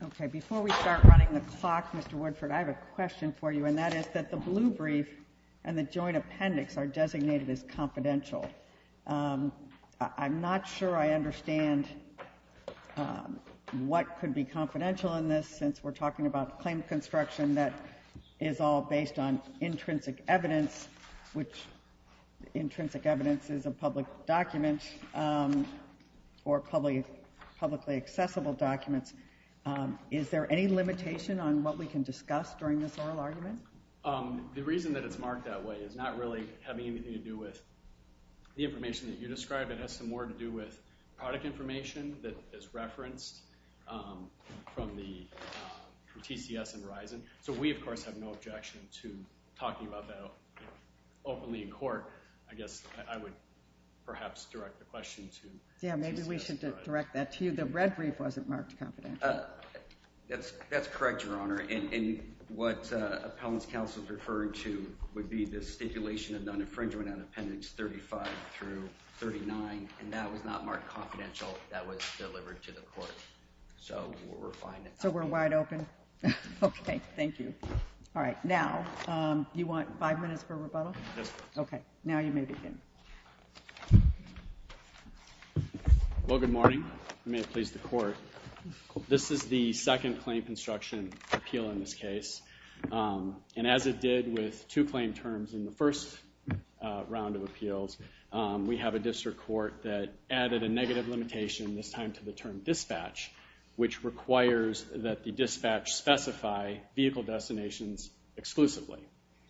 Okay, before we start running the clock, Mr. Woodford, I have a question for you, and that is that the blue brief and the joint appendix are designated as confidential. I'm not sure I understand what could be confidential in this, since we're talking about claim construction that is all based on intrinsic evidence, which intrinsic evidence is a public document, or publicly accessible documents. Is there any limitation on what we can discuss during this oral argument? The reason that it's marked that way is not really having anything to do with the information that you describe. It has some more to do with product information that is referenced from TCS and Verizon. So we, of course, have no objection to talking about that openly in court. I guess I would perhaps direct the question to TCS. Yeah, maybe we should direct that to you. The red brief wasn't marked confidential. That's correct, Your Honor, and what appellant's counsel is referring to would be the stipulation of non-infringement on appendix 35 through 39, and that was not marked confidential. That was delivered to the court. So we're fine. So we're wide open? Okay, thank you. All right, now, you want five minutes for rebuttal? Yes, please. Okay, now you may begin. Well, good morning. I may have pleased the court. This is the second claim construction appeal in this case, and as it did with two claim terms in the first round of appeals, we have a district court that added a negative limitation, this time to the term dispatch, which requires that the dispatch specify vehicle destinations exclusively.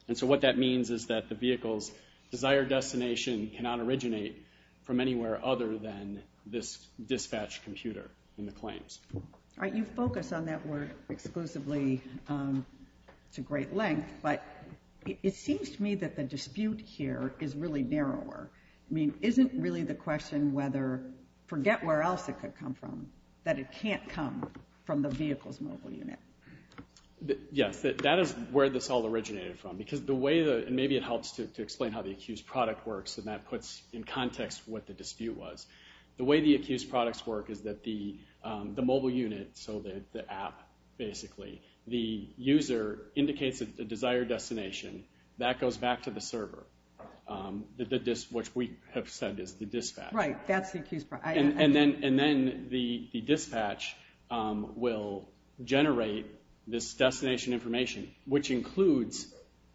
And so what that dispatched computer in the claims. All right, you focus on that word exclusively. It's a great length, but it seems to me that the dispute here is really narrower. I mean, isn't really the question whether, forget where else it could come from, that it can't come from the vehicle's mobile unit? Yes, that is where this all originated from, because the way that, and maybe it helps to The way the accused products work is that the mobile unit, so the app, basically, the user indicates a desired destination. That goes back to the server, which we have said is the dispatch. Right, that's the accused product. And then the dispatch will generate this destination information, which includes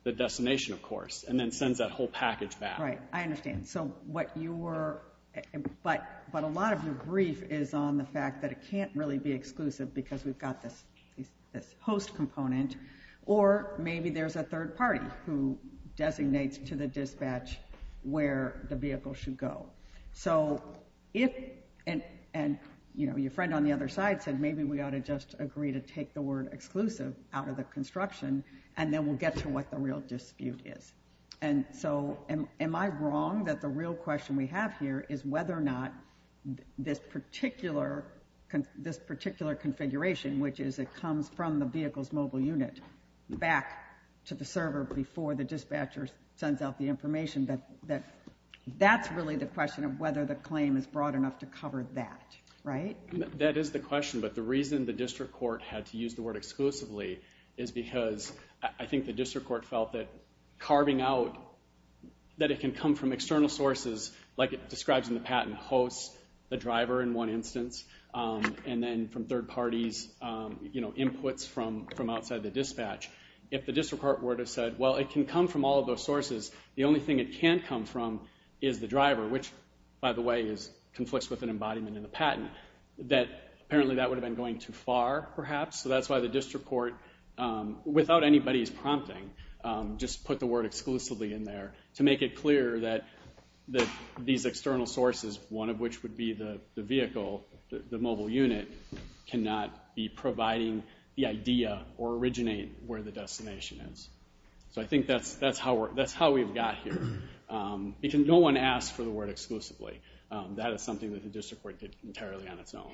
the destination, of course, and then sends that whole package back. Right, I understand. So what you were, but a lot of your brief is on the fact that it can't really be exclusive because we've got this host component, or maybe there's a third party who designates to the dispatch where the vehicle should go. So if, and your friend on the other side said, maybe we ought to just agree to take the word exclusive out of the construction, and then we'll get to what the real dispute is. And so, am I wrong that the real question we have here is whether or not this particular, this particular configuration, which is it comes from the vehicle's mobile unit, back to the server before the dispatcher sends out the information, that that's really the question of whether the claim is broad enough to cover that, right? That is the question, but the reason the district court had to use the word exclusively is because I think the district court felt that carving out, that it can come from external sources, like it describes in the patent, host, the driver in one instance, and then from third parties, inputs from outside the dispatch. If the district court were to have said, well, it can come from all of those sources, the only thing it can't come from is the driver, which, by the way, conflicts with an embodiment in the patent, that apparently that would have been going too far, perhaps, so that's why the district court, without anybody's prompting, just put the word exclusively in there to make it clear that these external sources, one of which would be the vehicle, the mobile unit, cannot be providing the idea or originate where the destination is. So I think that's how we've got here, because no one asked for the word exclusively. That is something that the district court did entirely on its own.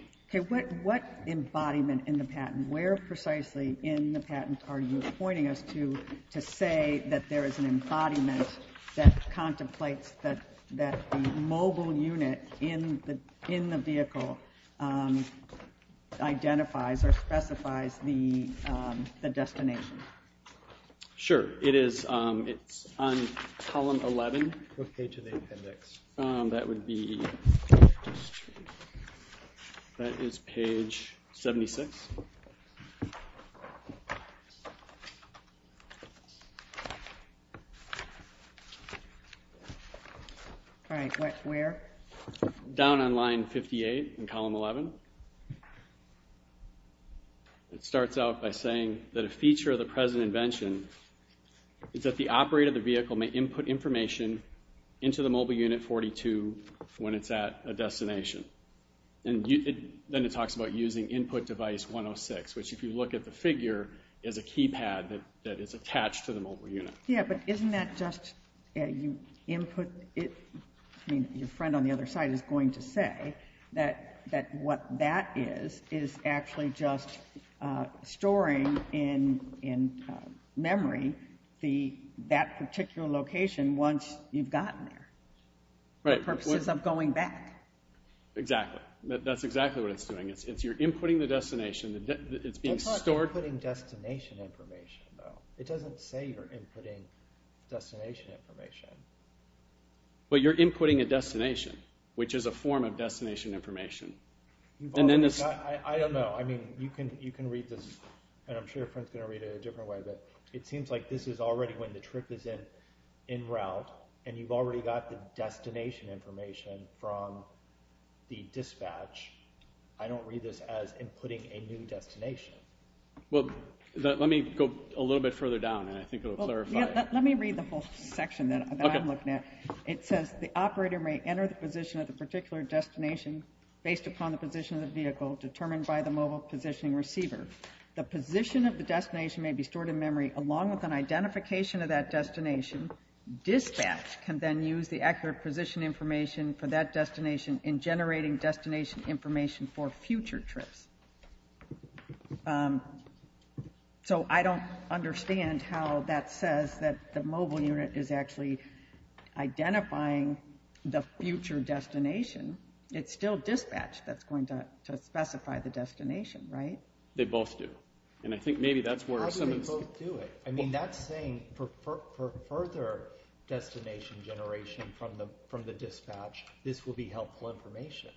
What embodiment in the patent, where precisely in the patent are you pointing us to, to say that there is an embodiment that contemplates that the mobile unit in the vehicle identifies or specifies the destination? Sure. It is on column 11. What page of the appendix? That would be, that is page 76. All right, where? Down on line 58 in column 11. It starts out by saying that a feature of the present invention is that the operator of the vehicle may input information into the mobile unit 42 when it's at a destination. And then it talks about using input device 106, which, if you look at the figure, is a keypad that is attached to the mobile unit. Yeah, but isn't that just, you input it, I mean your friend on the other side is going to say that what that is, is actually just storing in memory that particular location once you've gotten there. For purposes of going back. Exactly. That's exactly what it's doing. It's your inputting the destination, it's being inputting destination information. But you're inputting a destination, which is a form of destination information. I don't know, I mean, you can read this, and I'm sure your friend's going to read it a different way, but it seems like this is already when the trip is in route, and you've already got the destination information from the dispatch. I don't read this as inputting a new destination. Well, let me go a little bit further down, and I think it will clarify. Let me read the whole section that I'm looking at. It says the operator may enter the position of the particular destination based upon the position of the vehicle determined by the mobile positioning receiver. The position of the destination may be stored in memory along with an identification of that destination. Dispatch can then use the accurate position for that destination in generating destination information for future trips. So I don't understand how that says that the mobile unit is actually identifying the future destination. It's still dispatch that's going to specify the destination, right? They both do. And I think maybe that's where some of this... I mean, that's saying for further destination generation from the dispatch, this will be helpful information.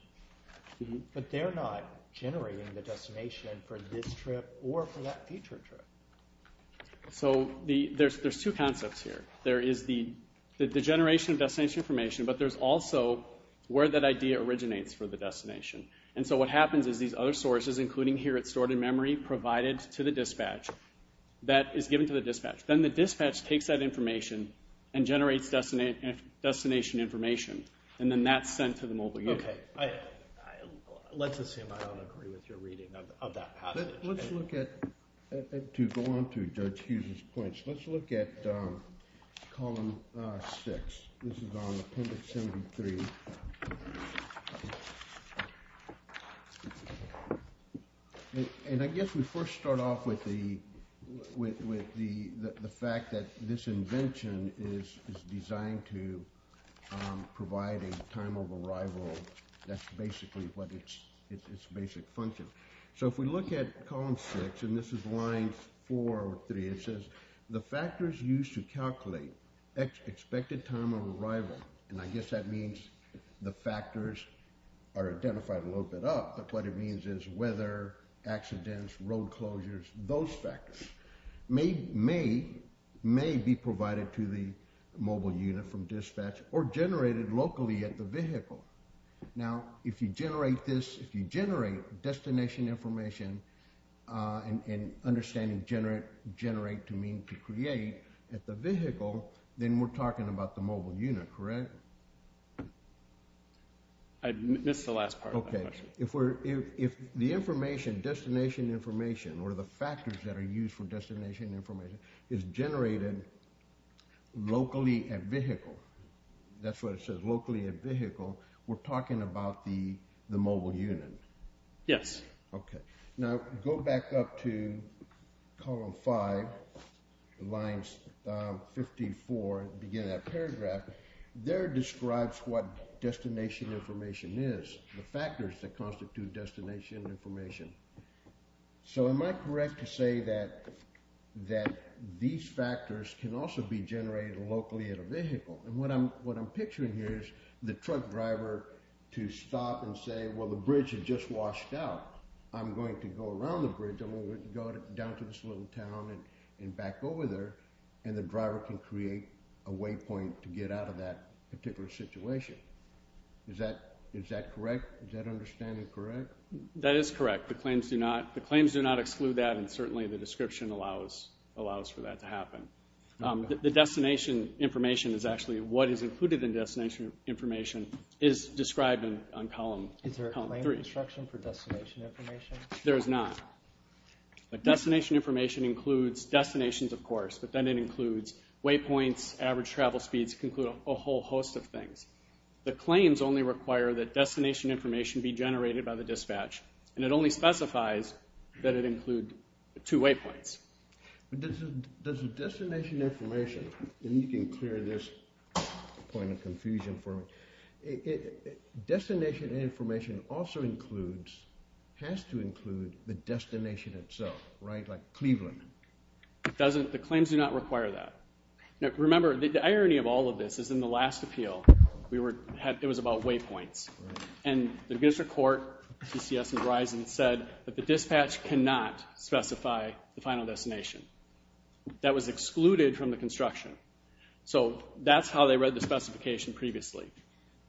But they're not generating the destination for this trip or for that future trip. So there's two concepts here. There is the generation of destination information, but there's also where that idea originates for the destination. And so what happens is these other sources, including here it's stored in memory provided to the dispatch, that is given to the dispatch. Then the dispatch takes that information and generates destination information. And then that's sent to the mobile unit. Okay. Let's assume I don't agree with your reading of that. Let's look at, to go on to Judge Hughes' points, let's look at column 6. This is on the fact that this invention is designed to provide a time of arrival that's basically what its basic function. So if we look at column 6, and this is line 4 or 3, it says the factors used to calculate expected time of arrival, and I guess that means the factors are identified a little bit up, but what it means is weather, accidents, road closures, those factors may be provided to the mobile unit from dispatch or generated locally at the vehicle. Now, if you generate this, if you generate destination information and understanding generate to mean to create at the vehicle, then we're talking about the mobile unit, correct? I missed the last part of that question. If the information, destination information, or the factors that are used for destination information is generated locally at vehicle, that's what it says, locally at vehicle, we're talking about the mobile unit. Yes. Okay. Now, go back up to column 5, lines 54 at the beginning of that paragraph. There describes what destination information is, the factors that constitute destination information. So am I correct to say that these factors can also be generated locally at a vehicle? And what I'm picturing here is the truck driver to stop and say, well, the bridge has just washed out, I'm going to go around the bridge, I'm going to go down to this little town and back over there, and the driver can create a waypoint to get out of that particular situation. Is that correct? Is that understanding correct? That is correct. The claims do not exclude that and certainly the description allows for that to happen. The destination information is actually what is included in destination information is described on column 3. Is there a claim construction for destination information? There is not. Destination information includes destinations, of course, but then it includes waypoints, average travel speeds, it can include a whole host of things. The claims only require that destination information be generated by the dispatch and it only specifies that it include two waypoints. Does the destination information, and you can clear this point of confusion for me, destination information also includes, has to include, the destination itself, right? Like Cleveland. It doesn't, the claims do not require that. Remember, the irony of all of this is in the last appeal, it was about waypoints. And the district court, DCS and Verizon, said that the dispatch cannot specify the final destination. That was excluded from the construction. So that's how they read the specification previously.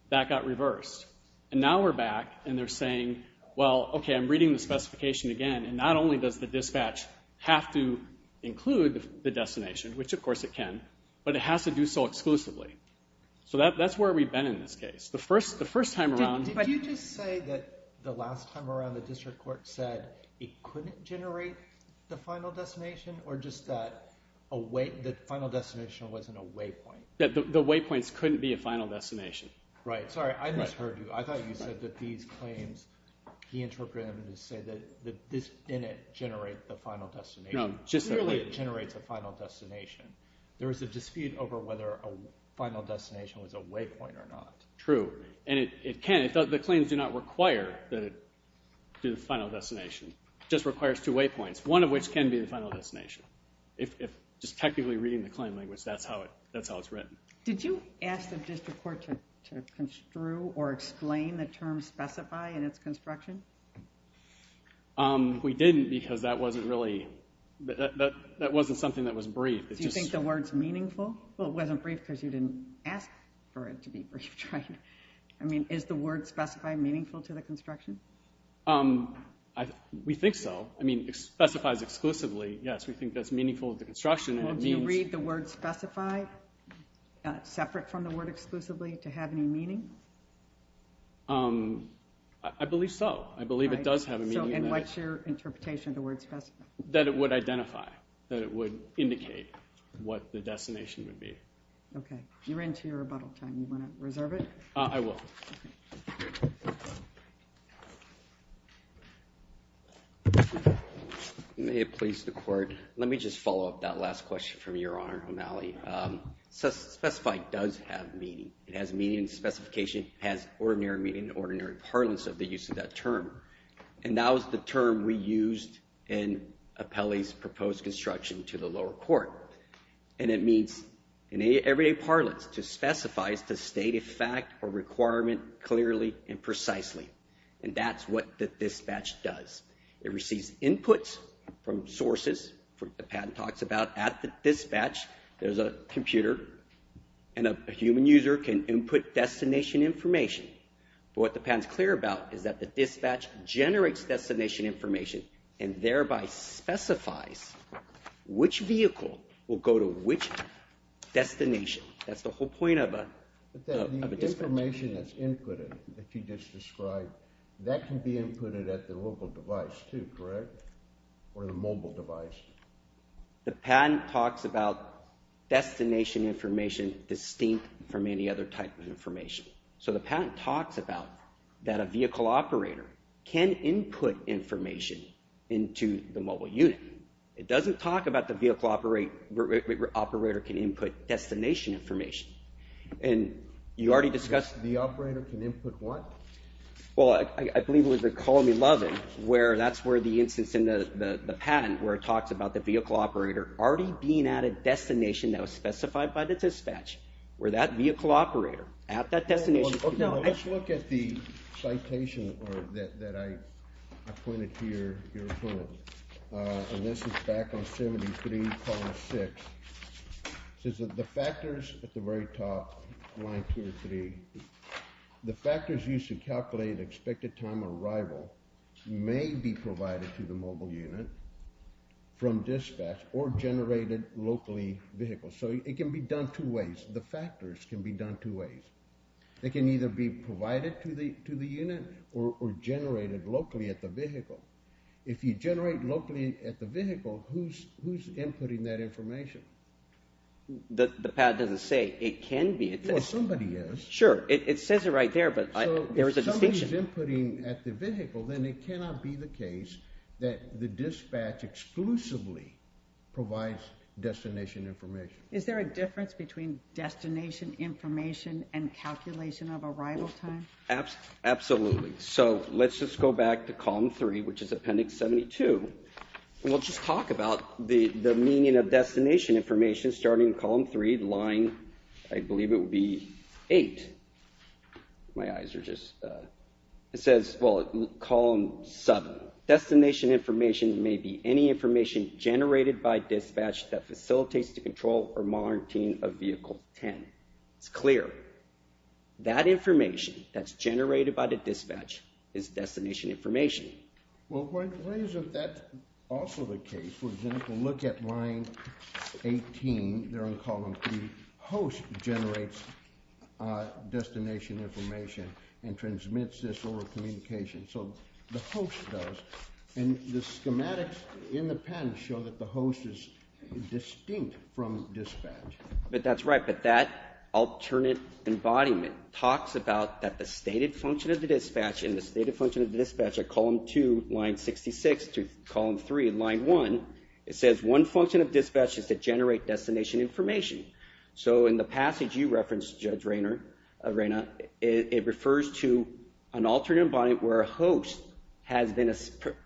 That got reversed. And now we're back and they're saying, well, okay, I'm reading the specification again and not only does the dispatch have to include the destination, which of course it can, but it has to do so exclusively. So that's where we've been in this case. The first time around... Did you just say that the last time around the district court said it couldn't generate the final destination or just that the final destination wasn't a waypoint? That the waypoints couldn't be a final destination. Right. Sorry, I misheard you. I thought you said that these claims, he interpreted them to say that this didn't generate the final destination. Clearly it generates a final destination. There was a dispute over whether a final destination was a waypoint or not. True. And it can. The claims do not require that it do the final destination. It just requires two waypoints, one of which can be the final destination. If just technically reading the claim language, that's how it's written. Did you ask the district court to construe or explain the term specify in its construction? We didn't because that wasn't really... That wasn't something that was brief. Do you think the word's meaningful? Well, it wasn't brief because you didn't ask for it to be brief, right? I mean, is the word specify meaningful to the construction? We think so. I mean, it specifies exclusively. Yes, we think that's meaningful to the construction. Do you read the word specify separate from the word exclusively to have any meaning? I believe so. I believe it does have a meaning. And what's your interpretation of the word specify? That it would identify, that it would indicate what the destination would be. Okay. You're into your rebuttal time. You want to reserve it? I will. Thank you. May it please the court. Let me just follow up that last question from Your Honor O'Malley. Specify does have meaning. It has meaning and specification. It has ordinary meaning and ordinary parlance of the use of that term. And that was the term we used in Apelli's proposed construction to the lower court. And it means in everyday parlance to specify is to state a fact or requirement clearly and precisely. And that's what the dispatch does. It receives inputs from sources, the patent talks about at the dispatch. There's a computer and a human user can input destination information. But what the patent's clear about is that the dispatch generates destination information and thereby specifies which vehicle will go to which destination. That's the whole point of a dispatch. The information that's inputted that you just described, that can be inputted at the local device too, correct? Or the mobile device? The patent talks about destination information distinct from any other type of information. So the patent talks about that a vehicle operator can input information into the mobile unit. It doesn't talk about the vehicle operator can input destination information. And you already discussed... The operator can input what? Well, I believe it was at Colony 11 where that's where the instance in the patent where it talks about the vehicle operator already being at a destination that was specified by the dispatch. Where that vehicle operator at that destination... Let's look at the citation that I pointed to your opponent. And this is back on 73 column 6. It says that the factors at the very top, line 2 and 3, the factors used to calculate expected time of arrival may be provided to the mobile unit from dispatch or generated locally vehicles. So it can be done two ways. The factors can be done two ways. They can either be provided to the unit or generated locally at the vehicle. If you generate locally at the vehicle, who's inputting that information? The patent doesn't say it can be. Well, somebody is. Sure, it says it right there, but there's a distinction. So if somebody's inputting at the vehicle, then it cannot be the case that the dispatch exclusively provides destination information. Is there a difference between destination information and calculation of arrival time? Absolutely. So let's just go back to column 3, which is appendix 72. And we'll just talk about the meaning of destination information starting in column 3, line... I believe it would be 8. My eyes are just... It says, well, column 7, destination information may be any information generated by dispatch that facilitates the control or monitoring of vehicle 10. It's clear. That information that's generated by the dispatch is destination information. Well, what if that's also the case? For example, look at line 18 there in column 3. The host generates destination information and transmits this over communication. So the host does. And the schematics in the patent show that the host is distinct from dispatch. But that's right. But that alternate embodiment talks about that the stated function of the dispatch and the stated function of the dispatch are column 2, line 66, to column 3, line 1. It says one function of dispatch is to generate destination information. So in the passage you referenced, Judge Reyna, it refers to an alternate embodiment where a host has been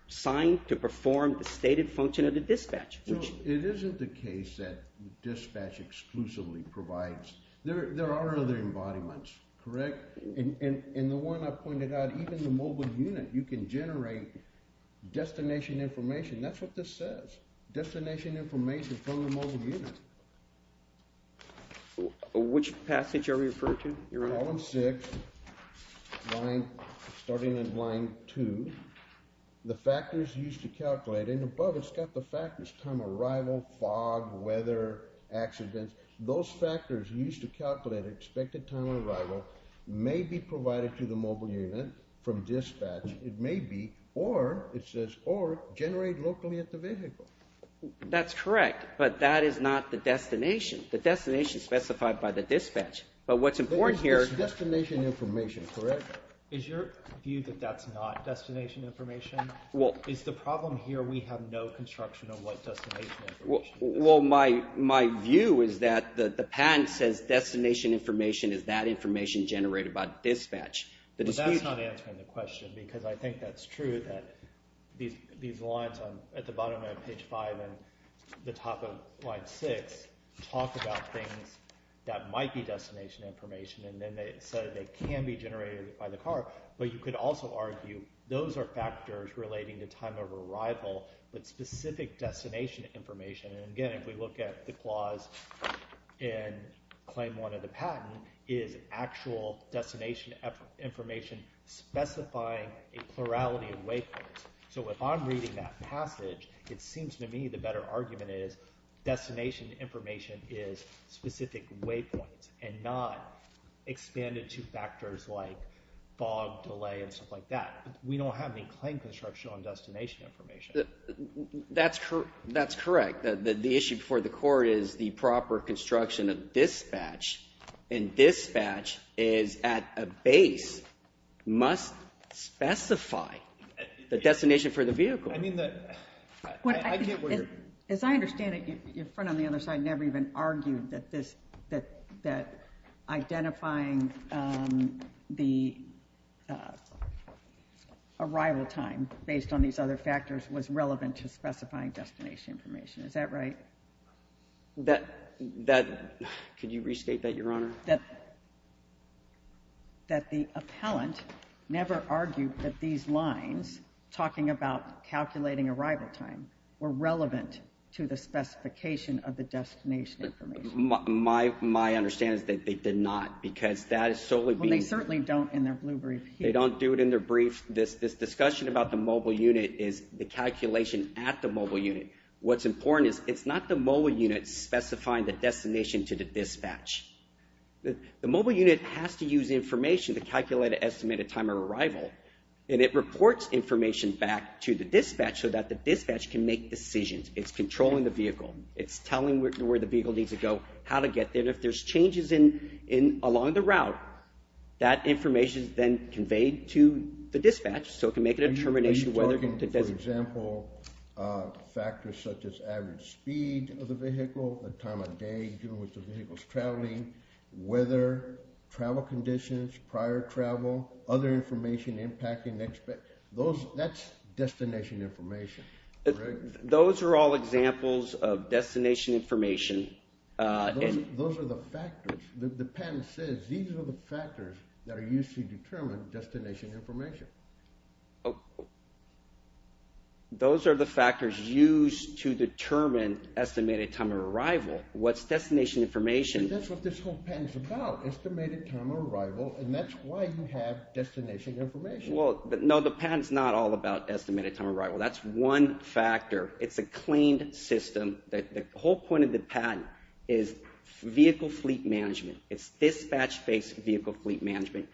assigned to perform the stated function of the dispatch. It isn't the case that dispatch exclusively provides... There are other embodiments, correct? In the one I pointed out, even the mobile unit, you can generate destination information. That's what this says. Destination information from the mobile unit. Which passage are we referring to, Your Honor? Column 6, starting at line 2. The factors used to calculate. And above it's got the factors, time of arrival, fog, weather, accidents. Those factors used to calculate expected time of arrival may be provided to the mobile unit from dispatch. It may be, or it says, or generate locally at the vehicle. That's correct, but that is not the destination. The destination is specified by the dispatch. But what's important here... But is this destination information correct? Is your view that that's not destination information? Is the problem here we have no construction of what destination information is? Well, my view is that the patent says destination information is that information generated by dispatch. But that's not answering the question because I think that's true, that these lines at the bottom of page 5 and the top of line 6 talk about things that might be destination information and then they say they can be generated by the car. But you could also argue those are factors relating to time of arrival with specific destination information. And again, if we look at the clause in claim 1 of the patent, claim 1 is actual destination information specifying a plurality of waypoints. So if I'm reading that passage, it seems to me the better argument is destination information is specific waypoints and not expanded to factors like fog, delay, and stuff like that. We don't have any claim construction on destination information. That's correct. The issue for the court is the proper construction of dispatch and dispatch is at a base must specify the destination for the vehicle. I mean, I get what you're... As I understand it, your friend on the other side never even argued that this, that identifying the arrival time based on these other factors was relevant to specifying destination information. Is that right? Could you restate that, Your Honor? That the appellant never argued that these lines talking about calculating arrival time were relevant to the specification of the destination information. My understanding is that they did not because that is solely being... Well, they certainly don't in their blue brief here. They don't do it in their brief. This discussion about the mobile unit is the calculation at the mobile unit. What's important is it's not the mobile unit specifying the destination to the dispatch. The mobile unit has to use information to calculate an estimated time of arrival and it reports information back to the dispatch so that the dispatch can make decisions. It's controlling the vehicle. It's telling where the vehicle needs to go, how to get there. If there's changes along the route, that information is then conveyed to the dispatch so it can make a determination whether... Are you talking, for example, factors such as average speed of the vehicle, the time of day given which the vehicle is traveling, weather, travel conditions, prior travel, other information impacting... That's destination information, correct? Those are all examples of destination information. Those are the factors. The patent says these are the factors that are used to determine destination information. Those are the factors used to determine estimated time of arrival. What's destination information... That's what this whole patent is about, estimated time of arrival, and that's why you have destination information. Well, no, the patent's not all about estimated time of arrival. That's one factor. It's a claimed system. The whole point of the patent is vehicle fleet management. It's dispatch-based vehicle fleet management,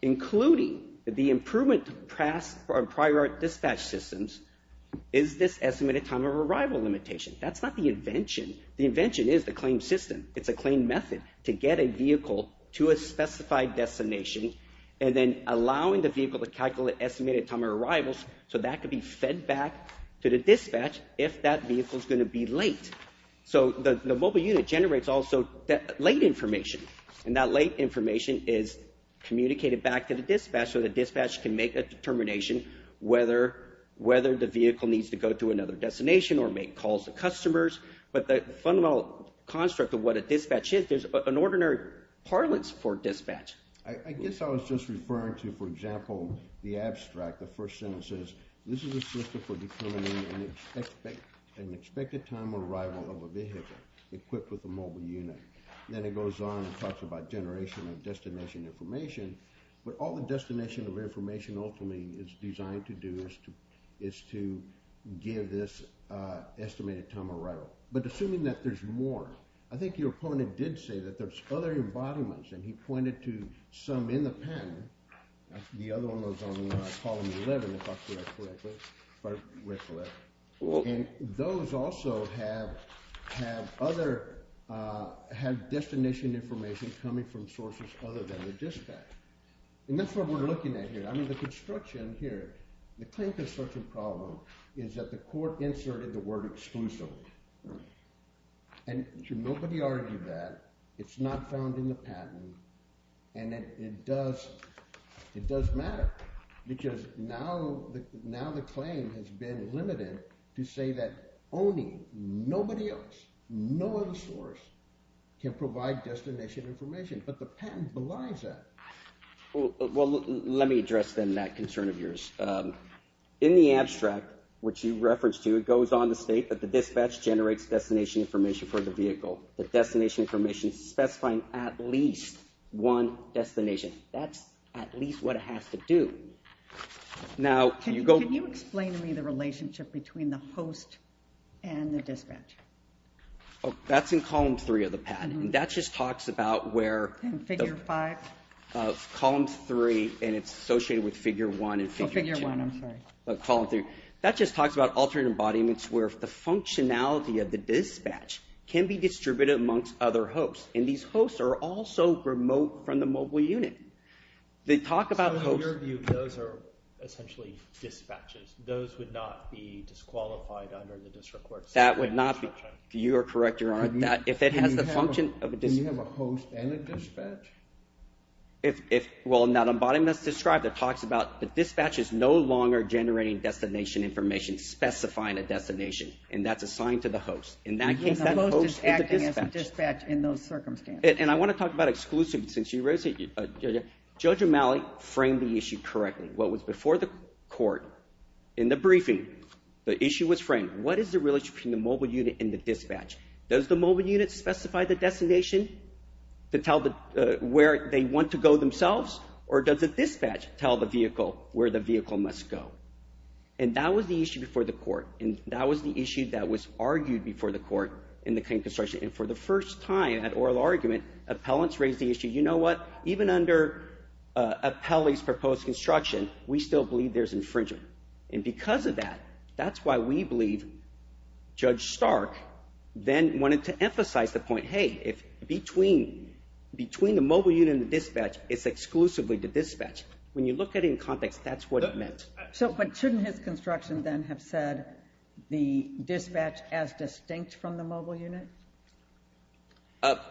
including the improvement to prior dispatch systems is this estimated time of arrival limitation. That's not the invention. The invention is the claimed system. It's a claimed method to get a vehicle to a specified destination and then allowing the vehicle to calculate estimated time of arrival so that could be fed back to the dispatch if that vehicle's going to be late. So the mobile unit generates also late information, and that late information is communicated back to the dispatch so the dispatch can make a determination whether the vehicle needs to go to another destination or make calls to customers. But the fundamental construct of what a dispatch is, there's an ordinary parlance for dispatch. I guess I was just referring to, for example, the abstract, the first sentence says, this is a system for determining an expected time of arrival of a vehicle equipped with a mobile unit. Then it goes on and talks about generation of destination information, but all the destination of information ultimately is designed to do is to give this estimated time of arrival. But assuming that there's more, I think your opponent did say that there's other embodiments, and he pointed to some in the patent. The other one was on Column 11, if I read correctly. And those also have other destination information coming from sources other than the dispatch. And that's what we're looking at here. I mean, the construction here, the claim construction problem is that the court inserted the word exclusive. And nobody argued that. It's not found in the patent. And it does matter because now the claim has been limited to say that only nobody else, no other source, can provide destination information. But the patent belies that. Well, let me address then that concern of yours. In the abstract, which you referenced to, it goes on to state that the dispatch generates destination information for the vehicle. The destination information specifying at least one destination. That's at least what it has to do. Now, can you go... Can you explain to me the relationship between the host and the dispatch? Oh, that's in Column 3 of the patent. And that just talks about where... In Figure 5? Column 3, and it's associated with Figure 1 and Figure 2. Oh, Figure 1, I'm sorry. Column 3. That just talks about alternate embodiments where the functionality of the dispatch can be distributed amongst other hosts. And these hosts are also remote from the mobile unit. They talk about... So in your view, those are essentially dispatches. Those would not be disqualified under the district courts? That would not be. You are correct, Your Honor. If it has the function of a... Then you have a host and a dispatch? Well, in that embodiment that's described, it talks about the dispatches no longer generating destination information specifying a destination, and that's assigned to the host. In that case, that host is the dispatch. And the host is acting as the dispatch in those circumstances. And I want to talk about exclusivity since you raised it. Judge O'Malley framed the issue correctly. What was before the court in the briefing, the issue was framed. What is the relationship between the mobile unit and the dispatch? Does the mobile unit specify the destination to tell where they want to go themselves, or does the dispatch tell the vehicle where the vehicle must go? And that was the issue before the court, and that was the issue that was argued before the court in the claim construction. And for the first time at oral argument, appellants raised the issue, you know what, even under appellee's proposed construction, we still believe there's infringement. And because of that, that's why we believe Judge Stark then wanted to emphasize the point, hey, if between the mobile unit and the dispatch, it's exclusively the dispatch. When you look at it in context, that's what it meant. But shouldn't his construction then have said the dispatch as distinct from the mobile unit?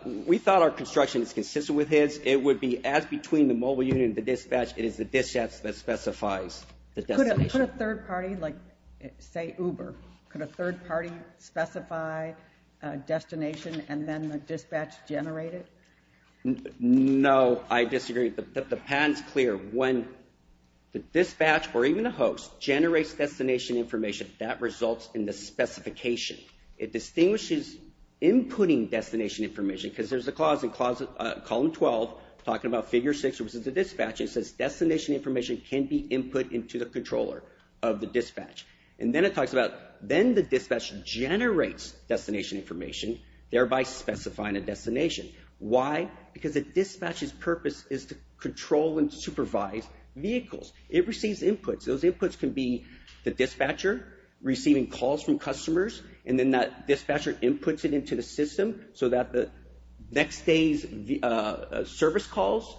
We thought our construction is consistent with his. It would be as between the mobile unit and the dispatch, it is the dispatch that specifies the destination. Could a third party, like say Uber, could a third party specify a destination and then the dispatch generate it? No, I disagree. The patent's clear. When the dispatch or even the host generates destination information, that results in the specification. It distinguishes inputting destination information, because there's a clause in Column 12 talking about Figure 6, which is the dispatch, it says destination information can be input into the controller of the dispatch. And then it talks about then the dispatch generates destination information, thereby specifying a destination. Why? Because the dispatch's purpose is to control and supervise vehicles. It receives inputs. Those inputs can be the dispatcher receiving calls from customers, and then that dispatcher inputs it into the system so that the next day's service calls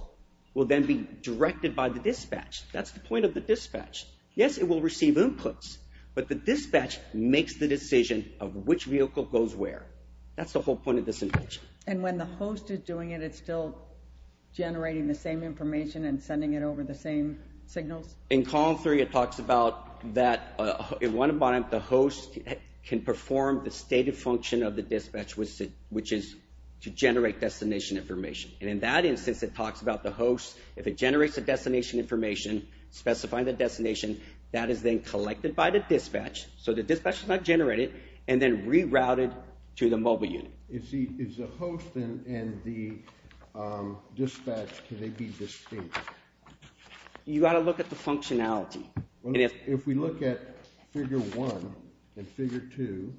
will then be directed by the dispatch. That's the point of the dispatch. Yes, it will receive inputs, but the dispatch makes the decision of which vehicle goes where. That's the whole point of this invention. And when the host is doing it, it's still generating the same information and sending it over the same signals? In Column 3, it talks about that at one point the host can perform the stated function of the dispatch, which is to generate destination information. And in that instance, it talks about the host, if it generates a destination information, specifying the destination, that is then collected by the dispatch, so the dispatch does not generate it, and then rerouted to the mobile unit. Is the host and the dispatch, can they be distinct? You've got to look at the functionality. If we look at Figure 1 and Figure 2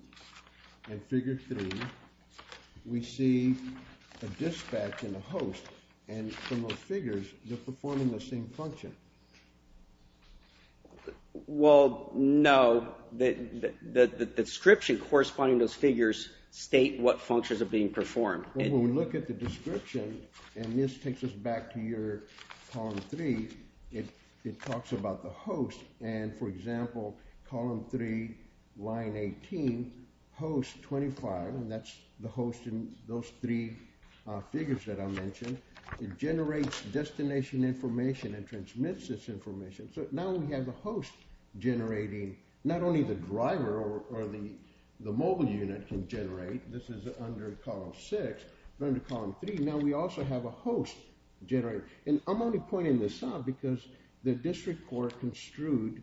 and Figure 3, we see a dispatch and a host, and from those figures, they're performing the same function. Well, no. The description corresponding to those figures state what functions are being performed. When we look at the description, and this takes us back to your Column 3, it talks about the host, and for example, Column 3, Line 18, host 25, and that's the host in those three figures that I mentioned. It generates destination information and transmits this information, so now we have a host generating, not only the driver or the mobile unit can generate, this is under Column 6, but under Column 3, now we also have a host generating. And I'm only pointing this out because the district court construed,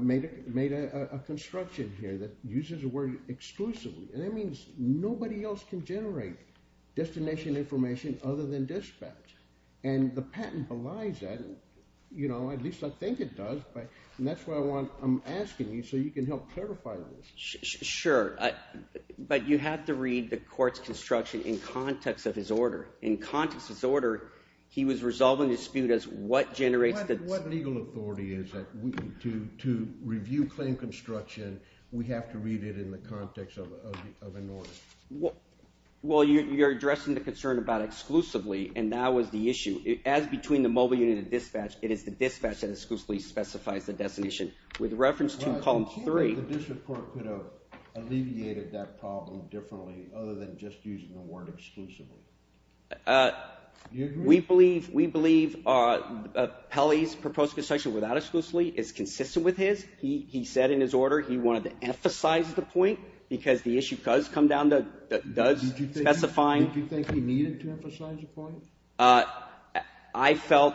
made a construction here that uses the word exclusively, and that means nobody else can generate destination information other than dispatch, and the patent belies that, at least I think it does, and that's why I'm asking you so you can help clarify this. Sure, but you have to read the court's construction in context of his order. In context of his order, he was resolving dispute as what generates the— What legal authority is it to review claim construction? We have to read it in the context of an order. Well, you're addressing the concern about exclusively, and that was the issue. As between the mobile unit and dispatch, it is the dispatch that exclusively specifies the destination. With reference to Column 3— Well, I think the district court could have alleviated that problem differently other than just using the word exclusively. Do you agree? We believe Pelly's proposed construction without exclusively is consistent with his. He said in his order he wanted to emphasize the point because the issue does come down to does specifying— Did you think he needed to emphasize the point? I felt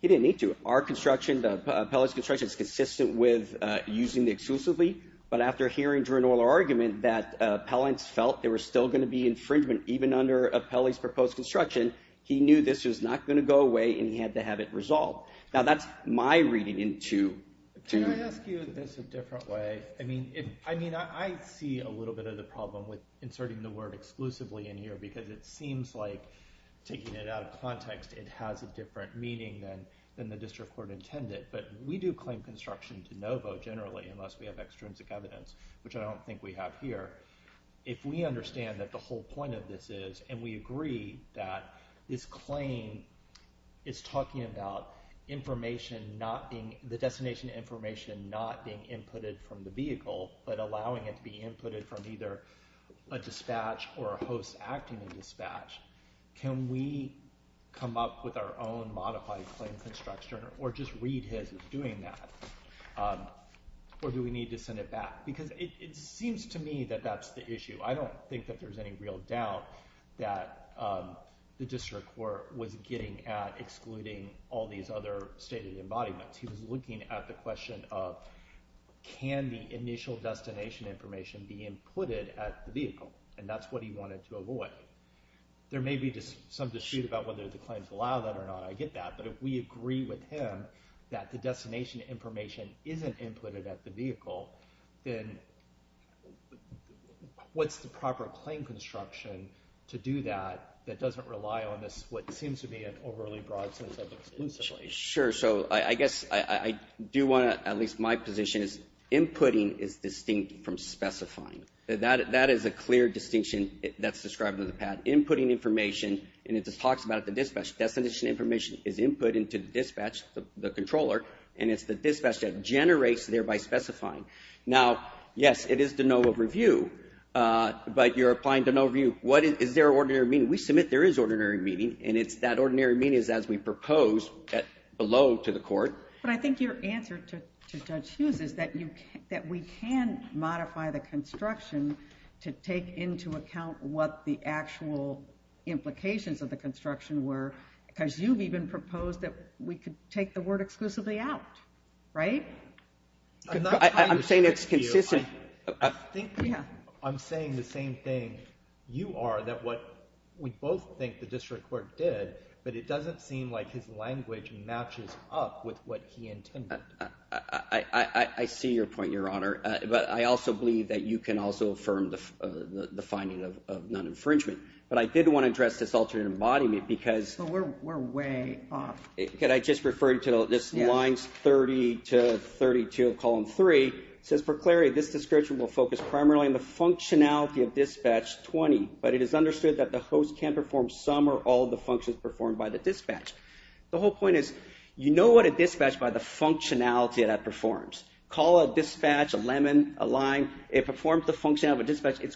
he didn't need to. Our construction, Pelly's construction, is consistent with using the exclusively, but after hearing Drew Noller's argument that appellants felt there was still going to be infringement even under Pelly's proposed construction, he knew this was not going to go away, and he had to have it resolved. Now, that's my reading to— Can I ask you this a different way? I mean, I see a little bit of the problem with inserting the word exclusively in here because it seems like, taking it out of context, it has a different meaning than the district court intended, but we do claim construction to no vote, generally, unless we have extrinsic evidence, which I don't think we have here. If we understand that the whole point of this is, and we agree that this claim is talking about the destination information not being inputted from the vehicle, but allowing it to be inputted from either a dispatch or a host acting in dispatch, can we come up with our own modified claim construction, or just read his as doing that? Or do we need to send it back? Because it seems to me that that's the issue. I don't think that there's any real doubt that the district court was getting at excluding all these other stated embodiments. He was looking at the question of, can the initial destination information be inputted at the vehicle? And that's what he wanted to avoid. There may be some dispute about whether the claims allow that or not. I get that, but if we agree with him that the destination information isn't inputted at the vehicle, then what's the proper claim construction to do that that doesn't rely on what seems to be an overly broad sense of exclusion? Sure, so I guess I do want to, at least my position is, inputting is distinct from specifying. That is a clear distinction that's described in the PAD. Inputting information, and it just talks about the dispatch, destination information is input into the dispatch, the controller, and it's the dispatch that generates, thereby specifying. Now, yes, it is to no overview, but you're applying to no review. Is there an ordinary meeting? We submit there is ordinary meeting, and that ordinary meeting is as we propose below to the court. But I think your answer to Judge Hughes is that we can modify the construction to take into account what the actual implications of the construction were, because you've even proposed that we could take the word exclusively out, right? I'm saying it's consistent. I'm saying the same thing you are, that what we both think the district court did, but it doesn't seem like his language matches up with what he intended. I see your point, Your Honor, but I also believe that you can also affirm the finding of non-infringement. But I did want to address this alternate embodiment because we're way off. Could I just refer to this lines 30 to 32 of column 3? It says, for clarity, this description will focus primarily on the functionality of dispatch 20, but it is understood that the host can't perform some or all of the functions performed by the dispatch. The whole point is you know what a dispatch by the functionality that it performs. Call a dispatch a lemon, a lime. It's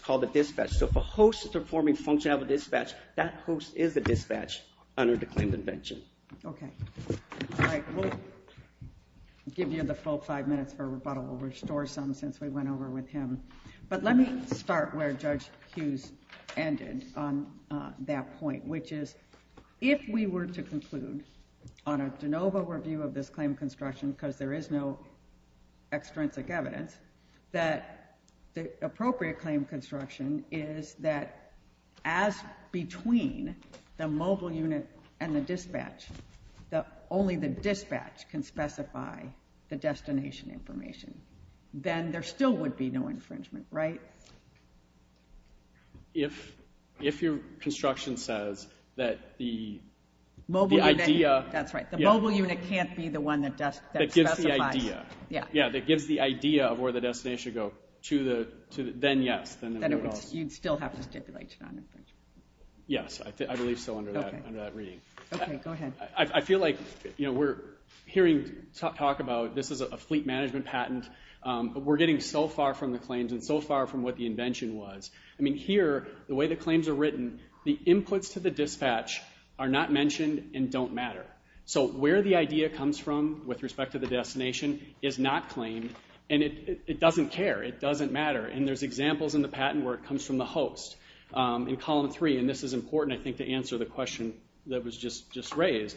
called a dispatch. So if a host is performing functionality of a dispatch, that host is a dispatch under the claimed invention. Okay. All right. We'll give you the full five minutes for rebuttal. We'll restore some since we went over with him. But let me start where Judge Hughes ended on that point, which is if we were to conclude on a de novo review of this claim construction, because there is no extrinsic evidence, that the appropriate claim construction is that as between the mobile unit and the dispatch, only the dispatch can specify the destination information, then there still would be no infringement, right? If your construction says that the idea. That's right. The mobile unit can't be the one that specifies. That gives the idea. The idea of where the destination would go, then yes. Then you'd still have to stipulate an infringement. Yes. I believe so under that reading. Okay. Go ahead. I feel like we're hearing talk about this is a fleet management patent. We're getting so far from the claims and so far from what the invention was. I mean here, the way the claims are written, the inputs to the dispatch are not mentioned and don't matter. Where the idea comes from with respect to the destination is not claimed. It doesn't care. It doesn't matter. There's examples in the patent where it comes from the host in column three. This is important, I think, to answer the question that was just raised.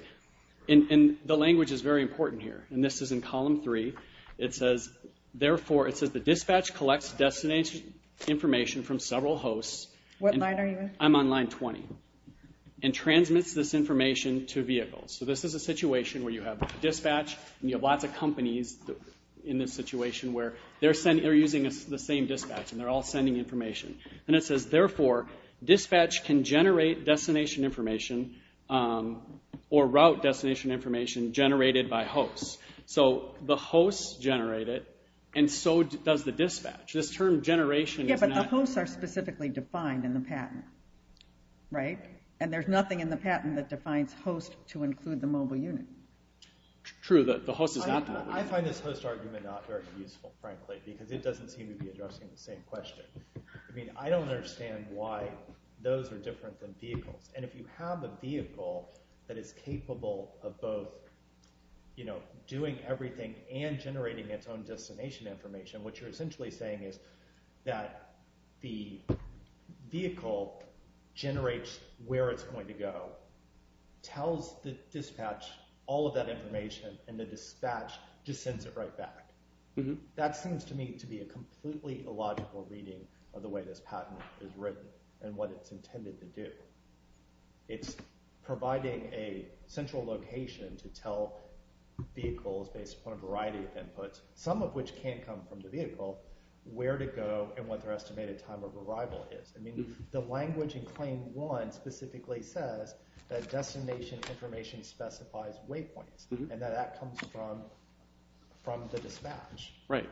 The language is very important here. This is in column three. It says, the dispatch collects destination information from several hosts. What line are you in? I'm on line 20. Transmits this information to vehicles. This is a situation where you have dispatch and you have lots of companies in this situation where they're using the same dispatch and they're all sending information. It says, therefore, dispatch can generate destination information or route destination information generated by hosts. The hosts generate it and so does the dispatch. This term generation is not- There's nothing in the patent that defines host to include the mobile unit. True. The host is not the mobile unit. I find this host argument not very useful, frankly, because it doesn't seem to be addressing the same question. I don't understand why those are different than vehicles. If you have a vehicle that is capable of both doing everything and generating its own destination information, what you're essentially saying is that the vehicle generates where it's going to go, tells the dispatch all of that information, and the dispatch just sends it right back. That seems to me to be a completely illogical reading of the way this patent is written and what it's intended to do. It's providing a central location to tell vehicles based upon a variety of inputs, some of which can come from the vehicle, where to go and what their estimated time of arrival is. The language in Claim 1 specifically says that destination information specifies waypoints and that that comes from the dispatch. Right.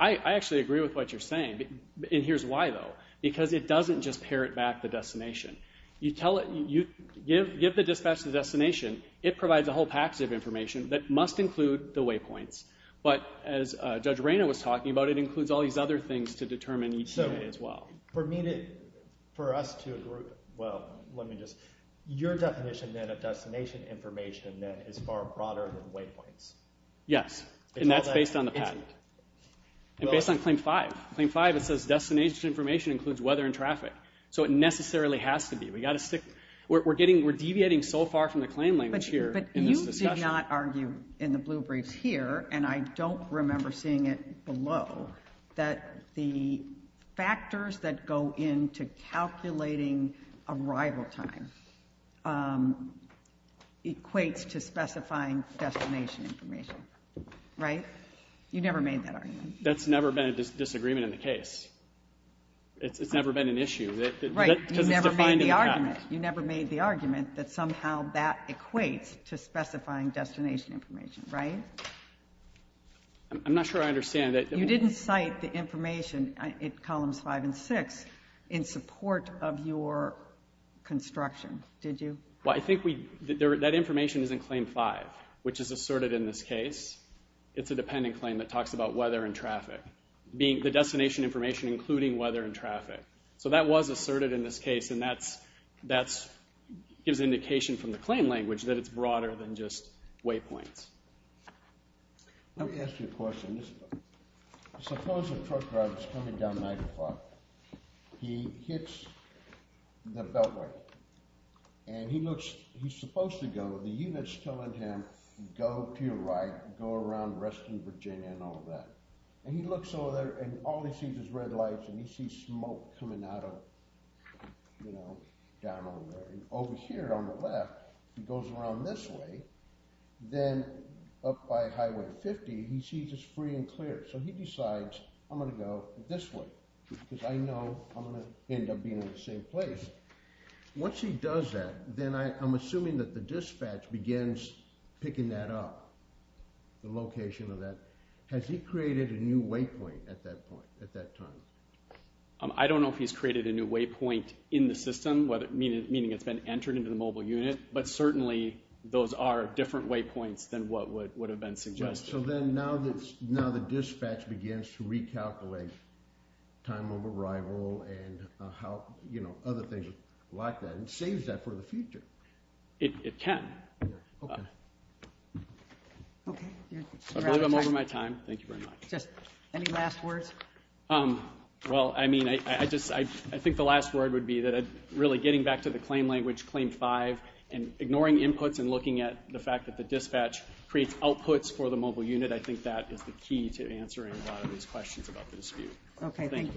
I actually agree with what you're saying, and here's why, though, because it doesn't just parrot back the destination. You give the dispatch the destination. It provides a whole package of information that must include the waypoints. But as Judge Reyna was talking about, it includes all these other things to determine as well. So for me to, for us to agree, well, let me just, your definition then of destination information then is far broader than waypoints. Yes, and that's based on the patent and based on Claim 5. Claim 5, it says destination information includes weather and traffic, so it necessarily has to be. We're deviating so far from the claim language here in this discussion. But you did not argue in the blue briefs here, and I don't remember seeing it below, that the factors that go into calculating arrival time equates to specifying destination information. Right? You never made that argument. That's never been a disagreement in the case. It's never been an issue. Right, you never made the argument. You never made the argument that somehow that equates to specifying destination information. Right? I'm not sure I understand. You didn't cite the information in Columns 5 and 6 in support of your construction, did you? Well, I think that information is in Claim 5, which is asserted in this case. It's a dependent claim that talks about weather and traffic, the destination information including weather and traffic. So that was asserted in this case, and that gives indication from the claim language that it's broader than just waypoints. Let me ask you a question. Suppose a truck driver is coming down 9 o'clock. He hits the beltway, and he's supposed to go. The unit's telling him, go to your right, go around Reston, Virginia, and all of that. And he looks over there, and all he sees is red lights, and he sees smoke coming out of, you know, down over there. And over here on the left, he goes around this way. Then up by Highway 50, he sees it's free and clear. So he decides, I'm going to go this way because I know I'm going to end up being in the same place. Once he does that, then I'm assuming that the dispatch begins picking that up, the location of that. Has he created a new waypoint at that point, at that time? I don't know if he's created a new waypoint in the system, meaning it's been entered into the mobile unit, but certainly those are different waypoints than what would have been suggested. So then now the dispatch begins to recalculate time of arrival and, you know, other things like that, and saves that for the future. It can. Okay. I believe I'm over my time. Thank you very much. Any last words? Well, I mean, I think the last word would be that really getting back to the claim language, Claim 5, and ignoring inputs and looking at the fact that the dispatch creates outputs for the mobile unit, I think that is the key to answering a lot of these questions about the dispute. Okay, thank you. Thank you very much.